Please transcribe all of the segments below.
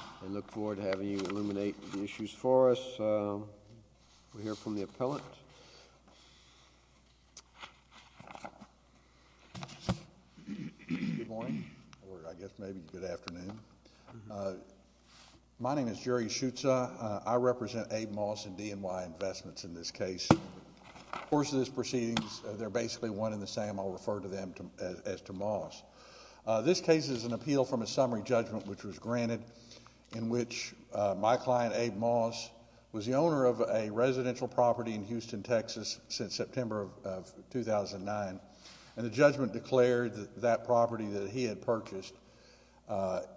I look forward to having you illuminate the issues for us. We'll hear from the appellant. Good morning, or I guess maybe good afternoon. My name is Jerry Schutza. I represent Abe Moss and D&Y Investments in this case. Of course, these proceedings, they're basically one and the same. I'll refer to them as to Moss. This case is an appeal from a summary judgment, which was granted, in which my client, Abe Moss, was the owner of a residential property in Houston, Texas, since September of 2009. And the judgment declared that that property that he had purchased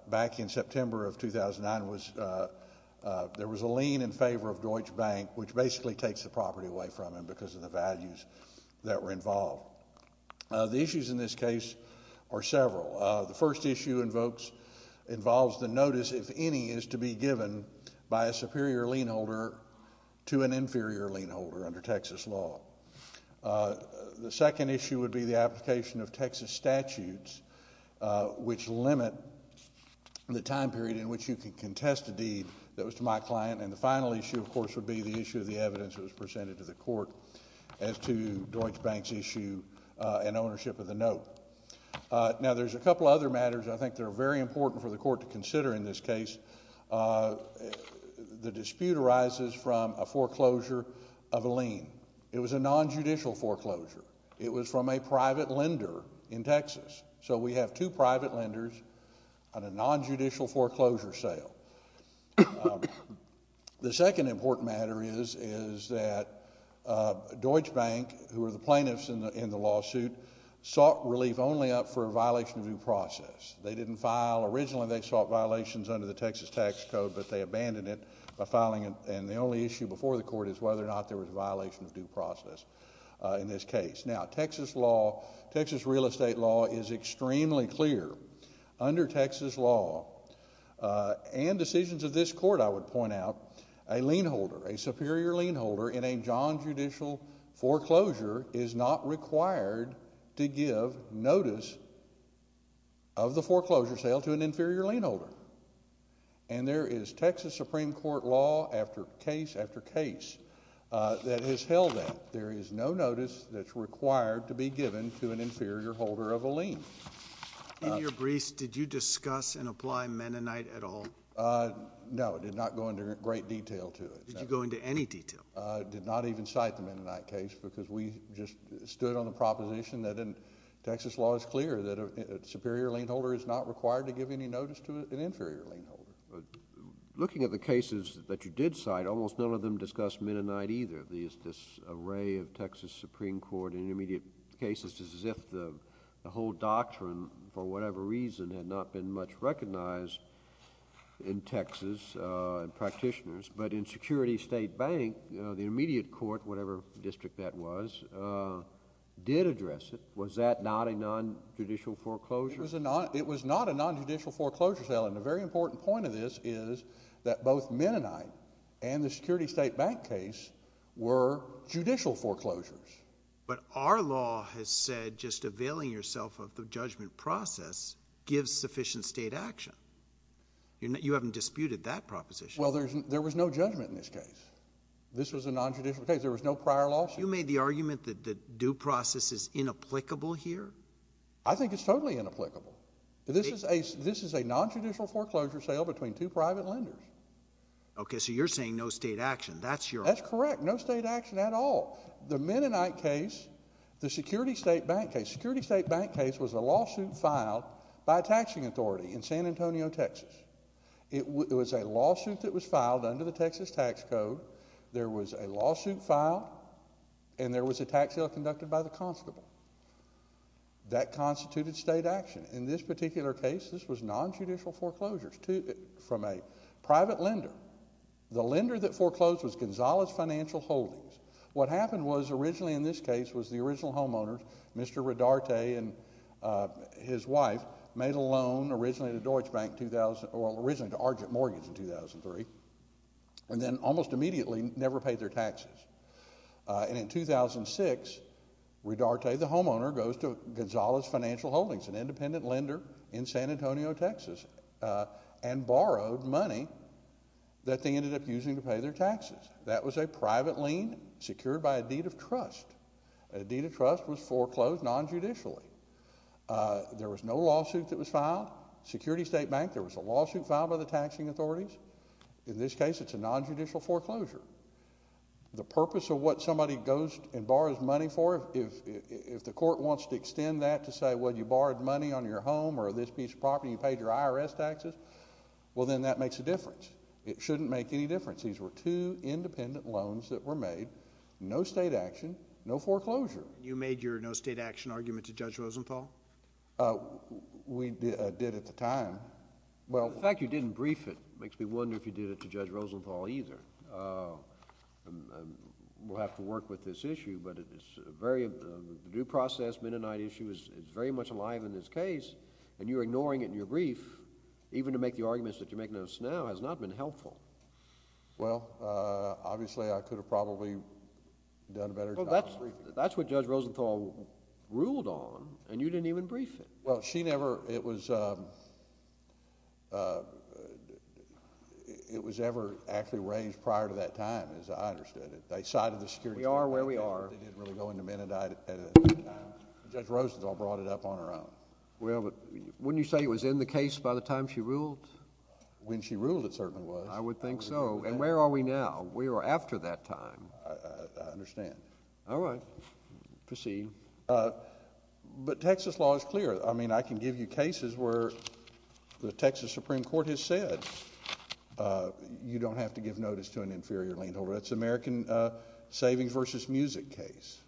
back in September of 2009 was there was a lien in favor of Deutsche Bank, which basically takes the property away from him because of the values that were involved. The issues in this case are several. The first issue invokes, involves the notice, if any, is to be given by a superior lien holder to an inferior lien holder under Texas law. The second issue would be the application of Texas statutes, which limit the time period in which you can contest a deed that was to my client. And the final issue, of course, would be the issue of the evidence that was presented to the court as to Deutsche Bank's issue and ownership of the note. Now, there's a couple other matters I think that are very important for the court to consider in this case. The dispute arises from a foreclosure of a lien. It was a nonjudicial foreclosure. It was from a private lender in Texas. So we have two private lenders on a nonjudicial foreclosure sale. The second important matter is that Deutsche Bank, who are the plaintiffs in the lawsuit, sought relief only up for a violation of due process. They didn't file. Originally, they sought violations under the Texas tax code, but they abandoned it by filing it. And the only issue before the court is whether or not there was a violation of due process in this case. Now, Texas law, Texas real estate law, is extremely clear. Under Texas law and decisions of this court, I would point out, a lien holder, a superior lien holder in a nonjudicial foreclosure is not required to give notice of the foreclosure sale to an inferior lien holder. And there is Texas Supreme Court law after case after case that has held that. There is no notice that's required to be given to an inferior holder of a lien. In your briefs, did you discuss and apply Mennonite at all? No, I did not go into great detail to it. Did you go into any detail? I did not even cite the Mennonite case because we just stood on the proposition that in Texas law, it's clear that a superior lien holder is not required to give any notice to an inferior lien holder. Looking at the cases that you did cite, almost none of them discussed Mennonite either. This array of Texas Supreme Court in immediate cases is as if the whole doctrine, for whatever reason, had not been much recognized in Texas and practitioners. But in Security State Bank, the immediate court, whatever district that was, did address it. Was that not a nonjudicial foreclosure? It was not a nonjudicial foreclosure sale. And a very important point of this is that both Mennonite and the Security State Bank case were judicial foreclosures. But our law has said just availing yourself of the judgment process gives sufficient state action. You haven't disputed that proposition. Well, there was no judgment in this case. This was a nonjudicial case. There was no prior lawsuit. You made the argument that the due process is inapplicable here? I think it's totally inapplicable. This is a nonjudicial foreclosure sale between two private lenders. Okay, so you're saying no state action. That's your argument. That's correct. No state action at all. The Mennonite case, the Security State Bank case, Security State Bank case was a lawsuit filed by a taxing authority in San Antonio, Texas. It was a lawsuit that was filed under the Texas tax code. There was a lawsuit filed, and there was a tax sale conducted by the constable. That constituted state action. In this particular case, this was nonjudicial foreclosures from a private lender. The lender that foreclosed was Gonzales Financial Holdings. What happened was originally in this case was the original homeowner, Mr. Redarte, and his wife made a loan originally to Deutsche Bank, originally to Argent Mortgages in 2003, and then almost immediately never paid their taxes. And in 2006, Redarte, the homeowner, goes to Gonzales Financial Holdings, an independent lender in San Antonio, Texas, and borrowed money that they ended up using to pay their taxes. That was a private lien secured by a deed of trust. A deed of trust was foreclosed nonjudicially. There was no lawsuit that was filed. Security State Bank, there was a lawsuit filed by the taxing authorities. In this case, it's a nonjudicial foreclosure. The purpose of what somebody goes and borrows money for, if the court wants to extend that to say, well, you borrowed money on your home or this piece of property, you paid your IRS taxes, well, then that makes a difference. It shouldn't make any difference. These were two independent loans that were made, no state action, no foreclosure. You made your no state action argument to Judge Rosenthal? We did at the time. Well, the fact you didn't brief it makes me wonder if you did it to Judge Rosenthal either. We'll have to work with this issue, but it's a very due process, midnight issue. It's very much alive in this case. And you're ignoring it in your brief, even to make the arguments that you're making us now has not been helpful. Well, obviously, I could have probably done a better job. Well, that's what Judge Rosenthal ruled on, and you didn't even brief it. Well, she never – it was ever actually raised prior to that time, as I understood it. They cited the security – We are where we are. They didn't really go into Mennonite at the time. Judge Rosenthal brought it up on her own. Well, but wouldn't you say it was in the case by the time she ruled? When she ruled, it certainly was. I would think so. And where are we now? We are after that time. I understand. All right. Proceed. But Texas law is clear. I mean, I can give you cases where the Texas Supreme Court has said you don't have to give notice to an inferior lien holder. That's American Savings v. Music case,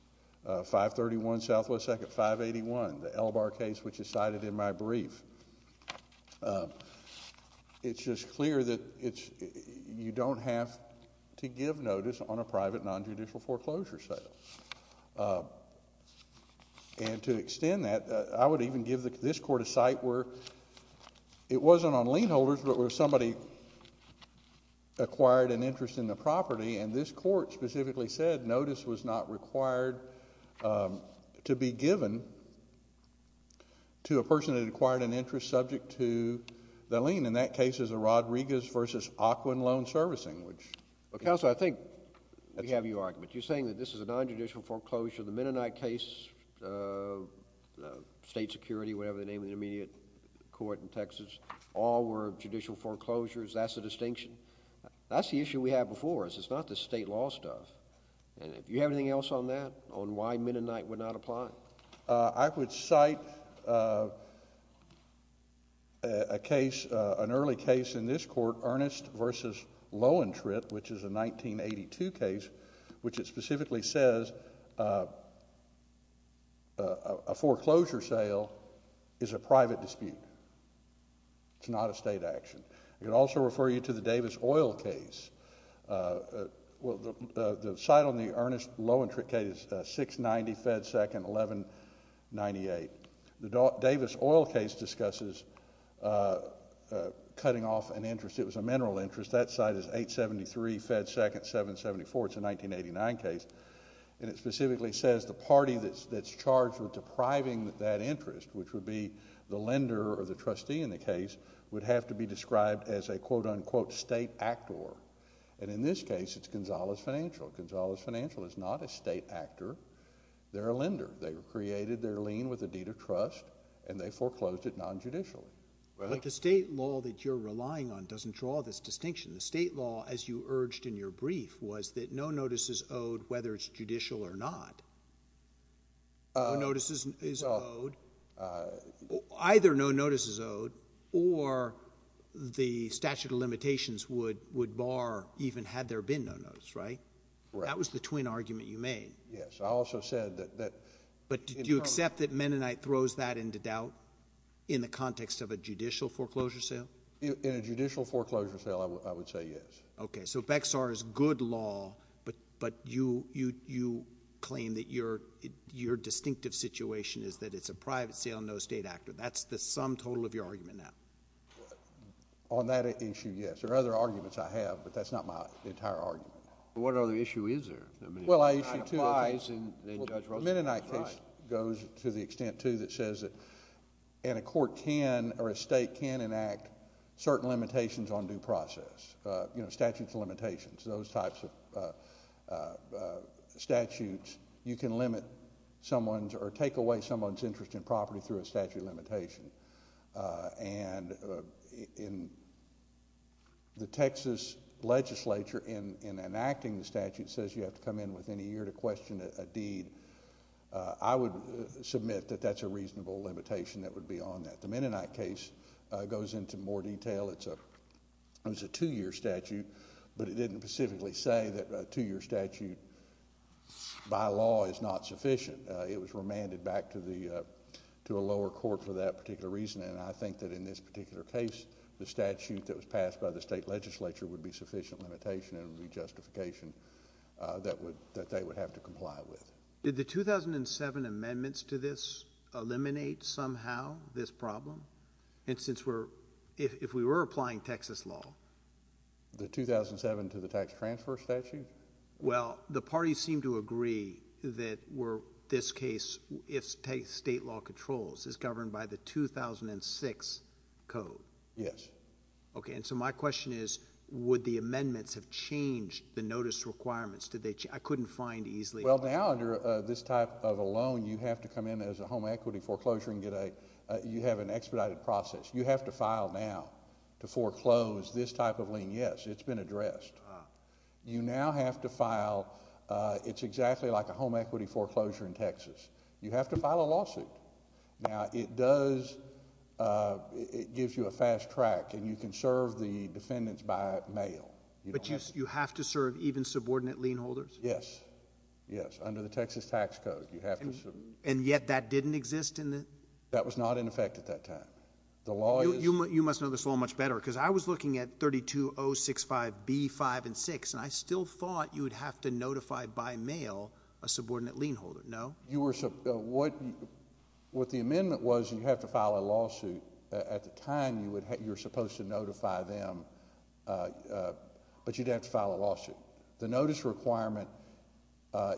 531 Southwest Sec. 581, the Elbar case, which is cited in my brief. It's just clear that you don't have to give notice on a private nonjudicial foreclosure sale. And to extend that, I would even give this court a site where it wasn't on lien holders, but where somebody acquired an interest in the property, and this court specifically said notice was not required to be given to a person that acquired an interest subject to the lien. In that case, it's a Rodriguez v. Ocwen loan servicing, which... Well, Counselor, I think we have your argument. You're saying that this is a nonjudicial foreclosure. The Mennonite case, state security, whatever the name of the immediate court in Texas, all were judicial foreclosures. That's the distinction. That's the issue we have before us. It's not the state law stuff. And if you have anything else on that, on why Mennonite would not apply? I would cite a case, an early case in this court, Earnest v. Lowentritt, which is a 1982 case, which it specifically says a foreclosure sale is a private dispute. It's not a state action. I can also refer you to the Davis Oil case. The site on the Earnest-Lowentritt case is 690 Fed 2nd, 1198. The Davis Oil case discusses cutting off an interest. It was a mineral interest. That site is 873 Fed 2nd, 774. It's a 1989 case, and it specifically says the party that's charged with depriving that interest, which would be the lender or the trustee in the case, would have to be described as a quote-unquote state actor. And in this case, it's Gonzalez Financial. Gonzalez Financial is not a state actor. They're a lender. They created their lien with a deed of trust, and they foreclosed it nonjudicially. But the state law that you're relying on doesn't draw this distinction. The state law, as you urged in your brief, was that no notice is owed whether it's judicial or not. No notice is owed. Either no notice is owed or the statute of limitations would bar even had there been no notice, right? Right. That was the twin argument you made. Yes. I also said that— But did you accept that Mennonite throws that into doubt in the context of a judicial foreclosure sale? In a judicial foreclosure sale, I would say yes. Okay. So BEXAR is good law, but you claim that your distinctive situation is that it's a private sale, no state actor. That's the sum total of your argument now. On that issue, yes. There are other arguments I have, but that's not my entire argument. What other issue is there? Well, I issue two. I applied— Well, the Mennonite case goes to the extent, too, that says that a court can or a state can enact certain limitations on due process. You know, statutes of limitations, those types of statutes. You can limit someone's or take away someone's interest in property through a statute of limitation. And the Texas legislature, in enacting the statute, says you have to come in within a year to question a deed. I would submit that that's a reasonable limitation that would be on that. The Mennonite case goes into more detail. It's a two-year statute, but it didn't specifically say that a two-year statute by law is not sufficient. It was remanded back to a lower court for that particular reason, and I think that in this particular case the statute that was passed by the state legislature would be sufficient limitation and would be justification that they would have to comply with. Did the 2007 amendments to this eliminate somehow this problem? And since we're, if we were applying Texas law. The 2007 to the tax transfer statute? Well, the parties seem to agree that this case, if state law controls, is governed by the 2006 code. Yes. Okay, and so my question is would the amendments have changed the notice requirements? I couldn't find easily. Well, now under this type of a loan you have to come in as a home equity foreclosure and you have an expedited process. You have to file now to foreclose this type of lien. Yes, it's been addressed. You now have to file. It's exactly like a home equity foreclosure in Texas. You have to file a lawsuit. Now, it does, it gives you a fast track, and you can serve the defendants by mail. But you have to serve even subordinate lien holders? Yes, yes, under the Texas tax code you have to serve. And yet that didn't exist in the? That was not in effect at that time. The law is. You must know this law much better because I was looking at 32065B5 and 6, and I still thought you would have to notify by mail a subordinate lien holder, no? You were, what the amendment was you have to file a lawsuit. At the time you were supposed to notify them, but you'd have to file a lawsuit. The notice requirement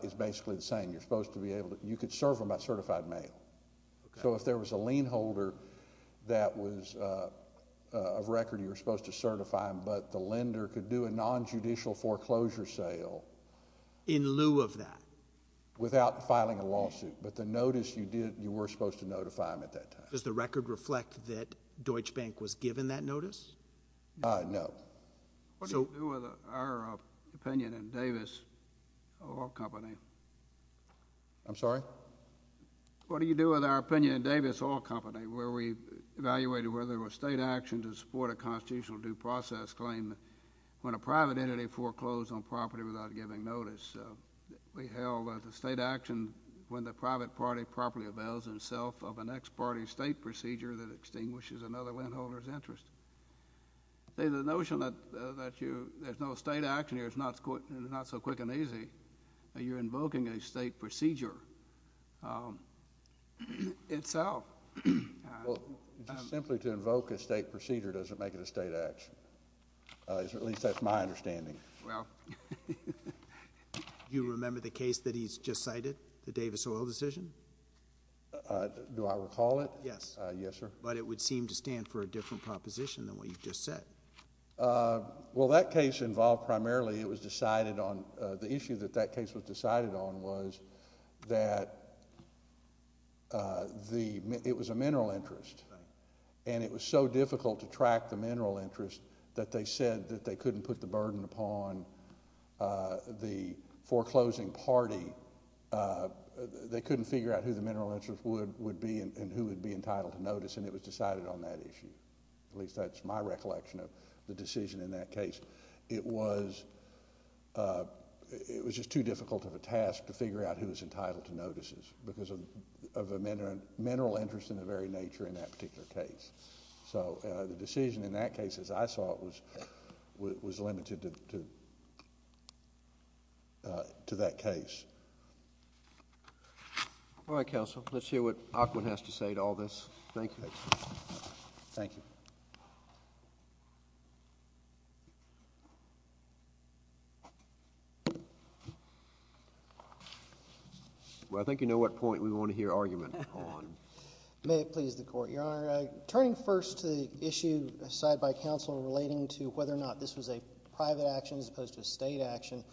is basically the same. You could serve them by certified mail. So if there was a lien holder that was of record, you were supposed to certify them, but the lender could do a nonjudicial foreclosure sale. In lieu of that? Without filing a lawsuit, but the notice you did, you were supposed to notify them at that time. Does the record reflect that Deutsche Bank was given that notice? No. What do you do with our opinion in Davis Oil Company? I'm sorry? What do you do with our opinion in Davis Oil Company where we evaluated whether there was state action to support a constitutional due process claim when a private entity foreclosed on property without giving notice? We held that the state action when the private party properly avails itself of an ex parte state procedure that extinguishes another lien holder's interest. The notion that there's no state action here is not so quick and easy. You're invoking a state procedure itself. Well, just simply to invoke a state procedure doesn't make it a state action. At least that's my understanding. Well, do you remember the case that he's just cited, the Davis Oil decision? Do I recall it? Yes. Yes, sir. But it would seem to stand for a different proposition than what you've just said. Well, that case involved primarily it was decided on the issue that that case was decided on was that it was a mineral interest. And it was so difficult to track the mineral interest that they said that they couldn't put the burden upon the foreclosing party. They couldn't figure out who the mineral interest would be and who would be entitled to notice. And it was decided on that issue. At least that's my recollection of the decision in that case. It was just too difficult of a task to figure out who was entitled to notices because of a mineral interest in the very nature in that particular case. So the decision in that case, as I saw it, was limited to that case. All right, counsel. Let's hear what Aquin has to say to all this. Thank you. Thank you. Well, I think you know what point we want to hear argument on. May it please the Court, Your Honor. Turning first to the issue cited by counsel relating to whether or not this was a private action as opposed to a state action,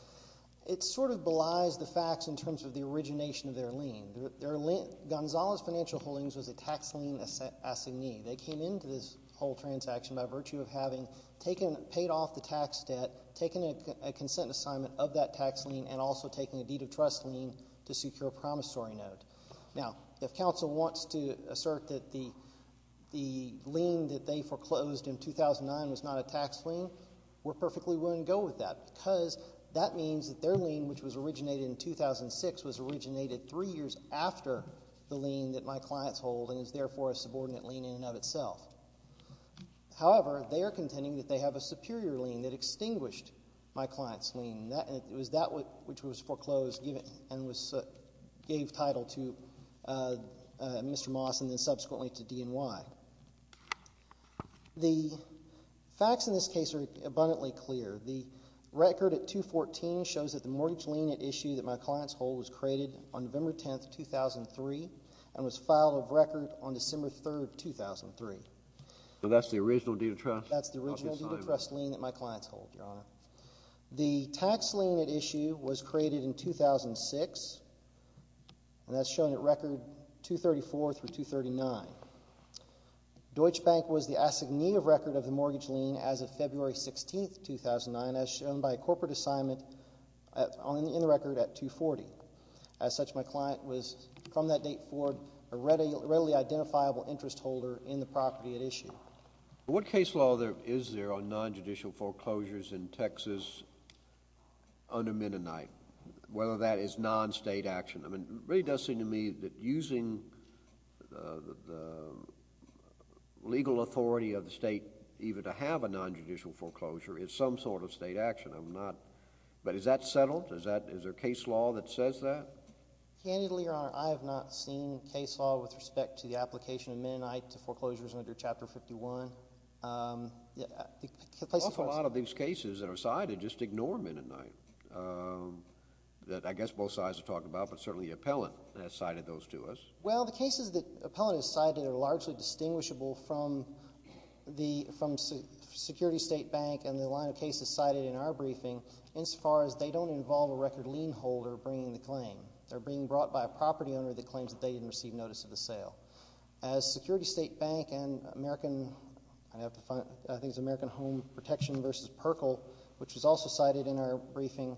it sort of belies the facts in terms of the origination of their lien. Gonzales Financial Holdings was a tax lien assignee. They came into this whole transaction by virtue of having paid off the tax debt, taken a consent assignment of that tax lien, and also taking a deed of trust lien to secure a promissory note. Now, if counsel wants to assert that the lien that they foreclosed in 2009 was not a tax lien, we're perfectly willing to go with that because that means that their lien, which was originated in 2006, was originated three years after the lien that my client's hold and is therefore a subordinate lien in and of itself. However, they are contending that they have a superior lien that extinguished my client's lien. It was that which was foreclosed and gave title to Mr. Moss and then subsequently to DNY. The facts in this case are abundantly clear. The record at 214 shows that the mortgage lien at issue that my client's hold was created on November 10, 2003 and was filed of record on December 3, 2003. So that's the original deed of trust? That's the original deed of trust lien that my client's hold, Your Honor. The tax lien at issue was created in 2006, and that's shown at record 234 through 239. Deutsche Bank was the assignee of record of the mortgage lien as of February 16, 2009, as shown by a corporate assignment in the record at 240. As such, my client was, from that date forward, a readily identifiable interest holder in the property at issue. What case law is there on nonjudicial foreclosures in Texas under Mennonite, whether that is non-state action? I mean, it really does seem to me that using the legal authority of the state even to have a nonjudicial foreclosure is some sort of state action. But is that settled? Is there case law that says that? Candidly, Your Honor, I have not seen case law with respect to the application of Mennonite to foreclosures under Chapter 51. An awful lot of these cases that are cited just ignore Mennonite that I guess both sides have talked about, but certainly Appellant has cited those to us. Well, the cases that Appellant has cited are largely distinguishable from the Security State Bank and the line of cases cited in our briefing insofar as they don't involve a record lien holder bringing the claim. They're being brought by a property owner that claims that they didn't receive notice of the sale. As Security State Bank and American Home Protection v. Perkle, which was also cited in our briefing,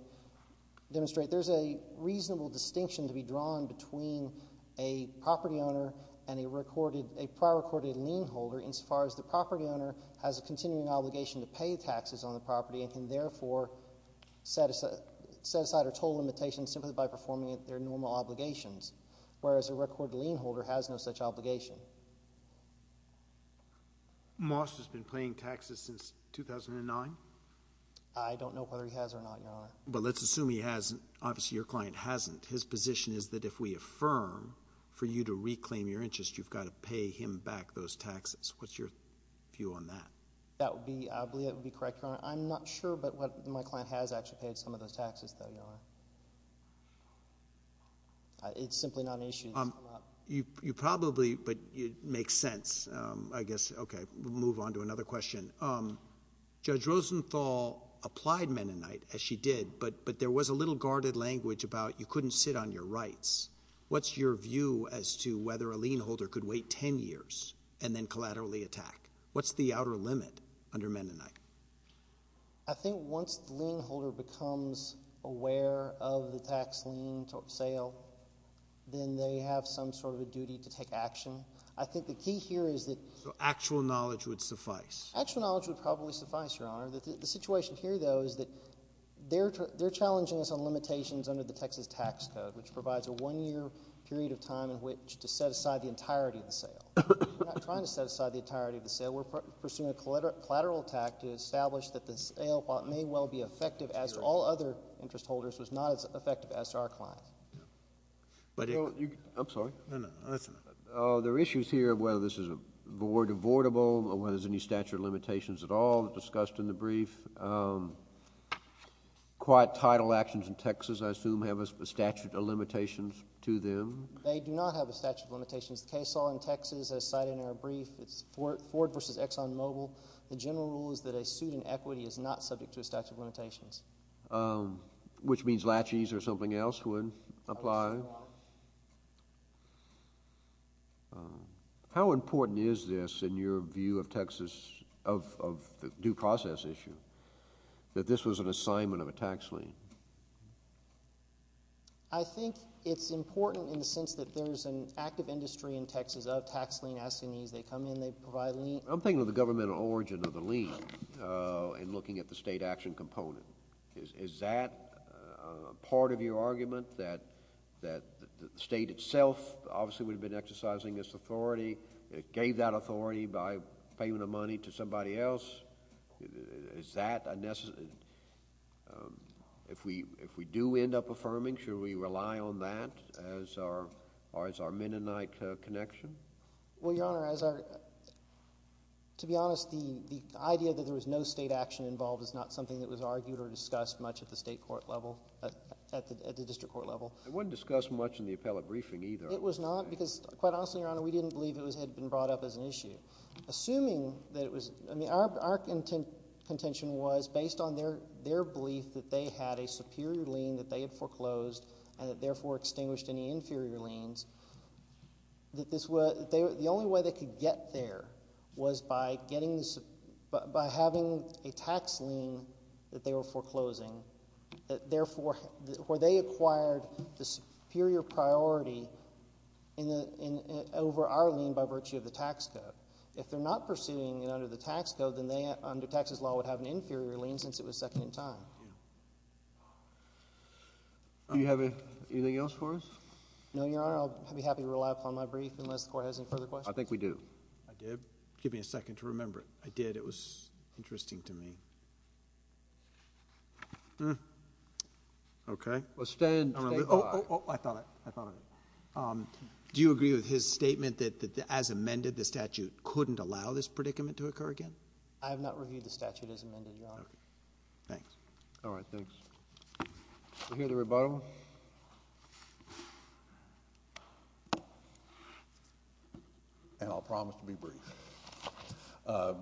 demonstrate there's a reasonable distinction to be drawn between a property owner and a prior recorded lien holder insofar as the property owner has a continuing obligation to pay taxes on the property and can therefore set aside a total limitation simply by performing their normal obligations, whereas a record lien holder has no such obligation. Moss has been paying taxes since 2009? I don't know whether he has or not, Your Honor. Well, let's assume he hasn't. Obviously, your client hasn't. His position is that if we affirm for you to reclaim your interest, you've got to pay him back those taxes. What's your view on that? I believe that would be correct, Your Honor. I'm not sure, but my client has actually paid some of those taxes, though, Your Honor. It's simply not an issue. You probably—but it makes sense, I guess. Okay, we'll move on to another question. Judge Rosenthal applied Mennonite, as she did, but there was a little guarded language about you couldn't sit on your rights. What's your view as to whether a lien holder could wait 10 years and then collaterally attack? What's the outer limit under Mennonite? I think once the lien holder becomes aware of the tax lien sale, then they have some sort of a duty to take action. I think the key here is that— So actual knowledge would suffice? Actual knowledge would probably suffice, Your Honor. The situation here, though, is that they're challenging us on limitations under the Texas Tax Code, which provides a one-year period of time in which to set aside the entirety of the sale. We're not trying to set aside the entirety of the sale. We're pursuing a collateral attack to establish that the sale, while it may well be effective as to all other interest holders, was not as effective as to our clients. I'm sorry. No, no. There are issues here of whether this is avoidable or whether there's any statute of limitations at all discussed in the brief. Quiet title actions in Texas, I assume, have a statute of limitations to them. They do not have a statute of limitations. The case law in Texas, as cited in our brief, it's Ford v. Exxon Mobil. The general rule is that a suit in equity is not subject to a statute of limitations. Which means latches or something else would apply. How important is this in your view of Texas, of the due process issue, that this was an assignment of a tax lien? I think it's important in the sense that there's an active industry in Texas of tax lien asking these. They come in, they provide a lien. I'm thinking of the governmental origin of the lien in looking at the state action component. Is that part of your argument, that the state itself obviously would have been exercising this authority, gave that authority by payment of money to somebody else? If we do end up affirming, should we rely on that as our Mennonite connection? Well, Your Honor, to be honest, the idea that there was no state action involved is not something that was argued or discussed much at the state court level, at the district court level. It wasn't discussed much in the appellate briefing either. It was not because, quite honestly, Your Honor, we didn't believe it had been brought up as an issue. Assuming that it was, I mean, our contention was based on their belief that they had a superior lien that they had foreclosed and that therefore extinguished any inferior liens, that the only way they could get there was by having a tax lien that they were foreclosing, where they acquired the superior priority over our lien by virtue of the tax code. If they're not pursuing it under the tax code, then they, under Texas law, would have an inferior lien since it was second in time. Do you have anything else for us? No, Your Honor. I'll be happy to rely upon my brief unless the Court has any further questions. I think we do. I did. Give me a second to remember it. I did. It was interesting to me. Okay. Well, stand— Oh, oh, oh. I thought of it. I thought of it. Do you agree with his statement that as amended, the statute couldn't allow this predicament to occur again? I have not reviewed the statute as amended, Your Honor. Okay. Thanks. All right. Thanks. Do we hear the rebuttal? And I'll promise to be brief.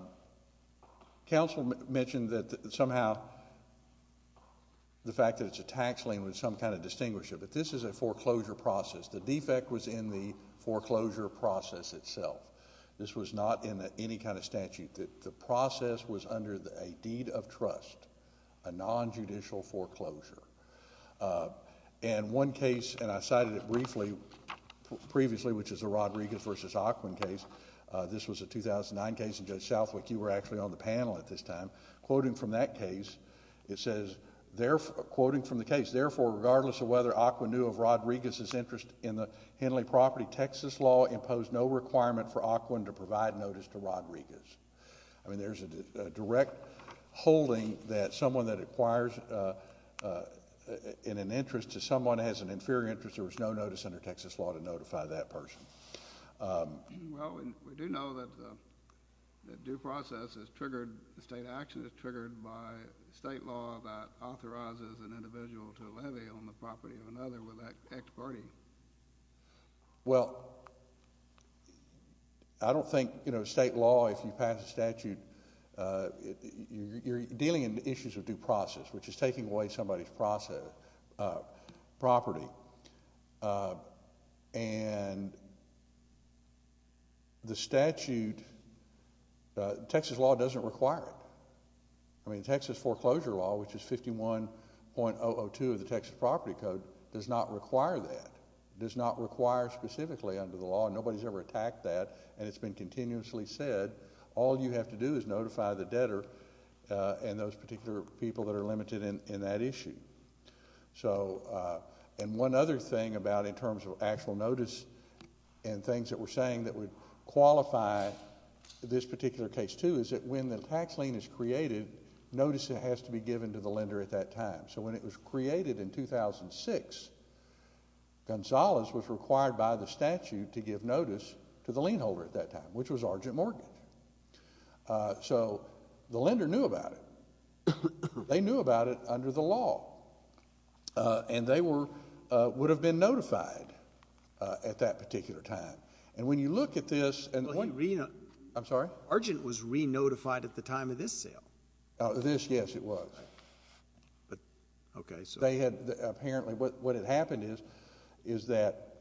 Counsel mentioned that somehow the fact that it's a tax lien was some kind of distinguisher, but this is a foreclosure process. The defect was in the foreclosure process itself. This was not in any kind of statute. The process was under a deed of trust, a nonjudicial foreclosure. And one case, and I cited it briefly previously, which is the Rodriguez v. Aquin case. This was a 2009 case, and Judge Southwick, you were actually on the panel at this time. Quoting from that case, it says, quoting from the case, Therefore, regardless of whether Aquin knew of Rodriguez's interest in the Henley property, the Texas law imposed no requirement for Aquin to provide notice to Rodriguez. I mean, there's a direct holding that someone that acquires in an interest to someone has an inferior interest, there was no notice under Texas law to notify that person. Well, we do know that due process is triggered, state action is triggered by state law that authorizes an individual to levy on the property of another with that ex parte. Well, I don't think state law, if you pass a statute, you're dealing in issues of due process, which is taking away somebody's property. And the statute, Texas law doesn't require it. I mean, Texas foreclosure law, which is 51.002 of the Texas property code, does not require that. It does not require specifically under the law. Nobody's ever attacked that, and it's been continuously said. All you have to do is notify the debtor and those particular people that are limited in that issue. And one other thing about in terms of actual notice and things that we're saying that would qualify this particular case, too, is that when the tax lien is created, notice has to be given to the lender at that time. So when it was created in 2006, Gonzales was required by the statute to give notice to the lien holder at that time, which was Argent Mortgage. So the lender knew about it. They knew about it under the law. And they would have been notified at that particular time. And when you look at this and the point- Well, he re- I'm sorry? Argent was re-notified at the time of this sale. This, yes, it was. Okay, so- They had apparently, what had happened is that,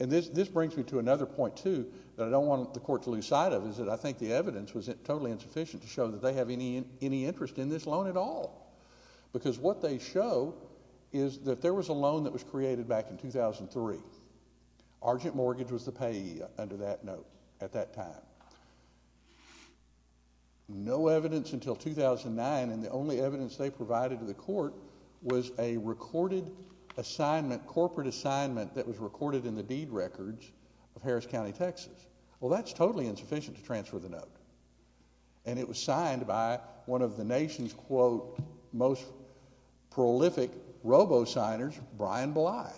and this brings me to another point, too, that I don't want the court to lose sight of is that I think the evidence was totally insufficient to show that they have any interest in this loan at all. Because what they show is that there was a loan that was created back in 2003. Argent Mortgage was the payee under that note at that time. No evidence until 2009, and the only evidence they provided to the court was a recorded assignment, corporate assignment, that was recorded in the deed records of Harris County, Texas. Well, that's totally insufficient to transfer the note. And it was signed by one of the nation's, quote, most prolific robo-signers, Brian Bly,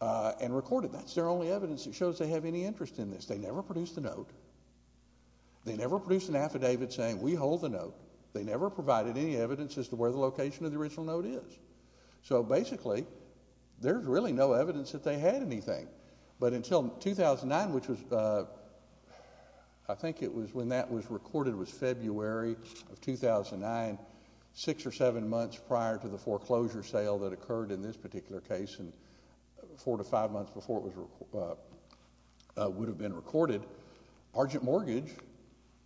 and recorded. That's their only evidence that shows they have any interest in this. They never produced the note. They never produced an affidavit saying, we hold the note. They never provided any evidence as to where the location of the original note is. So, basically, there's really no evidence that they had anything. But until 2009, which was, I think it was when that was recorded was February of 2009, six or seven months prior to the foreclosure sale that occurred in this particular case, and four to five months before it would have been recorded, Argent Mortgage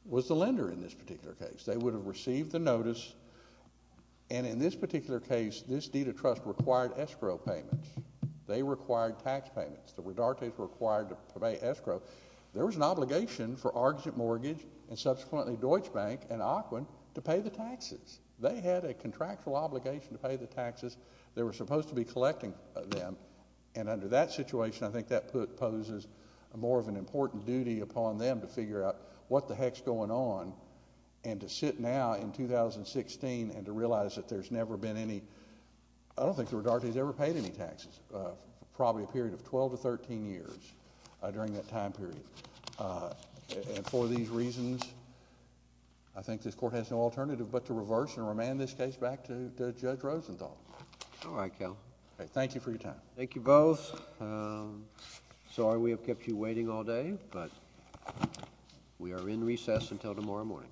was the lender in this particular case. They would have received the notice. And in this particular case, this deed of trust required escrow payments. They required tax payments. The Redartes were required to pay escrow. There was an obligation for Argent Mortgage and, subsequently, Deutsche Bank and Auckland to pay the taxes. They had a contractual obligation to pay the taxes. They were supposed to be collecting them. And under that situation, I think that poses more of an important duty upon them to figure out what the heck's going on. And to sit now in 2016 and to realize that there's never been any... I don't think the Redartes ever paid any taxes for probably a period of twelve to thirteen years during that time period. And for these reasons, I think this Court has no alternative but to reverse and remand this case back to Judge Rosenthal. All right, Cal. Thank you for your time. Thank you both. Sorry we have kept you waiting all day, but we are in recess until tomorrow morning.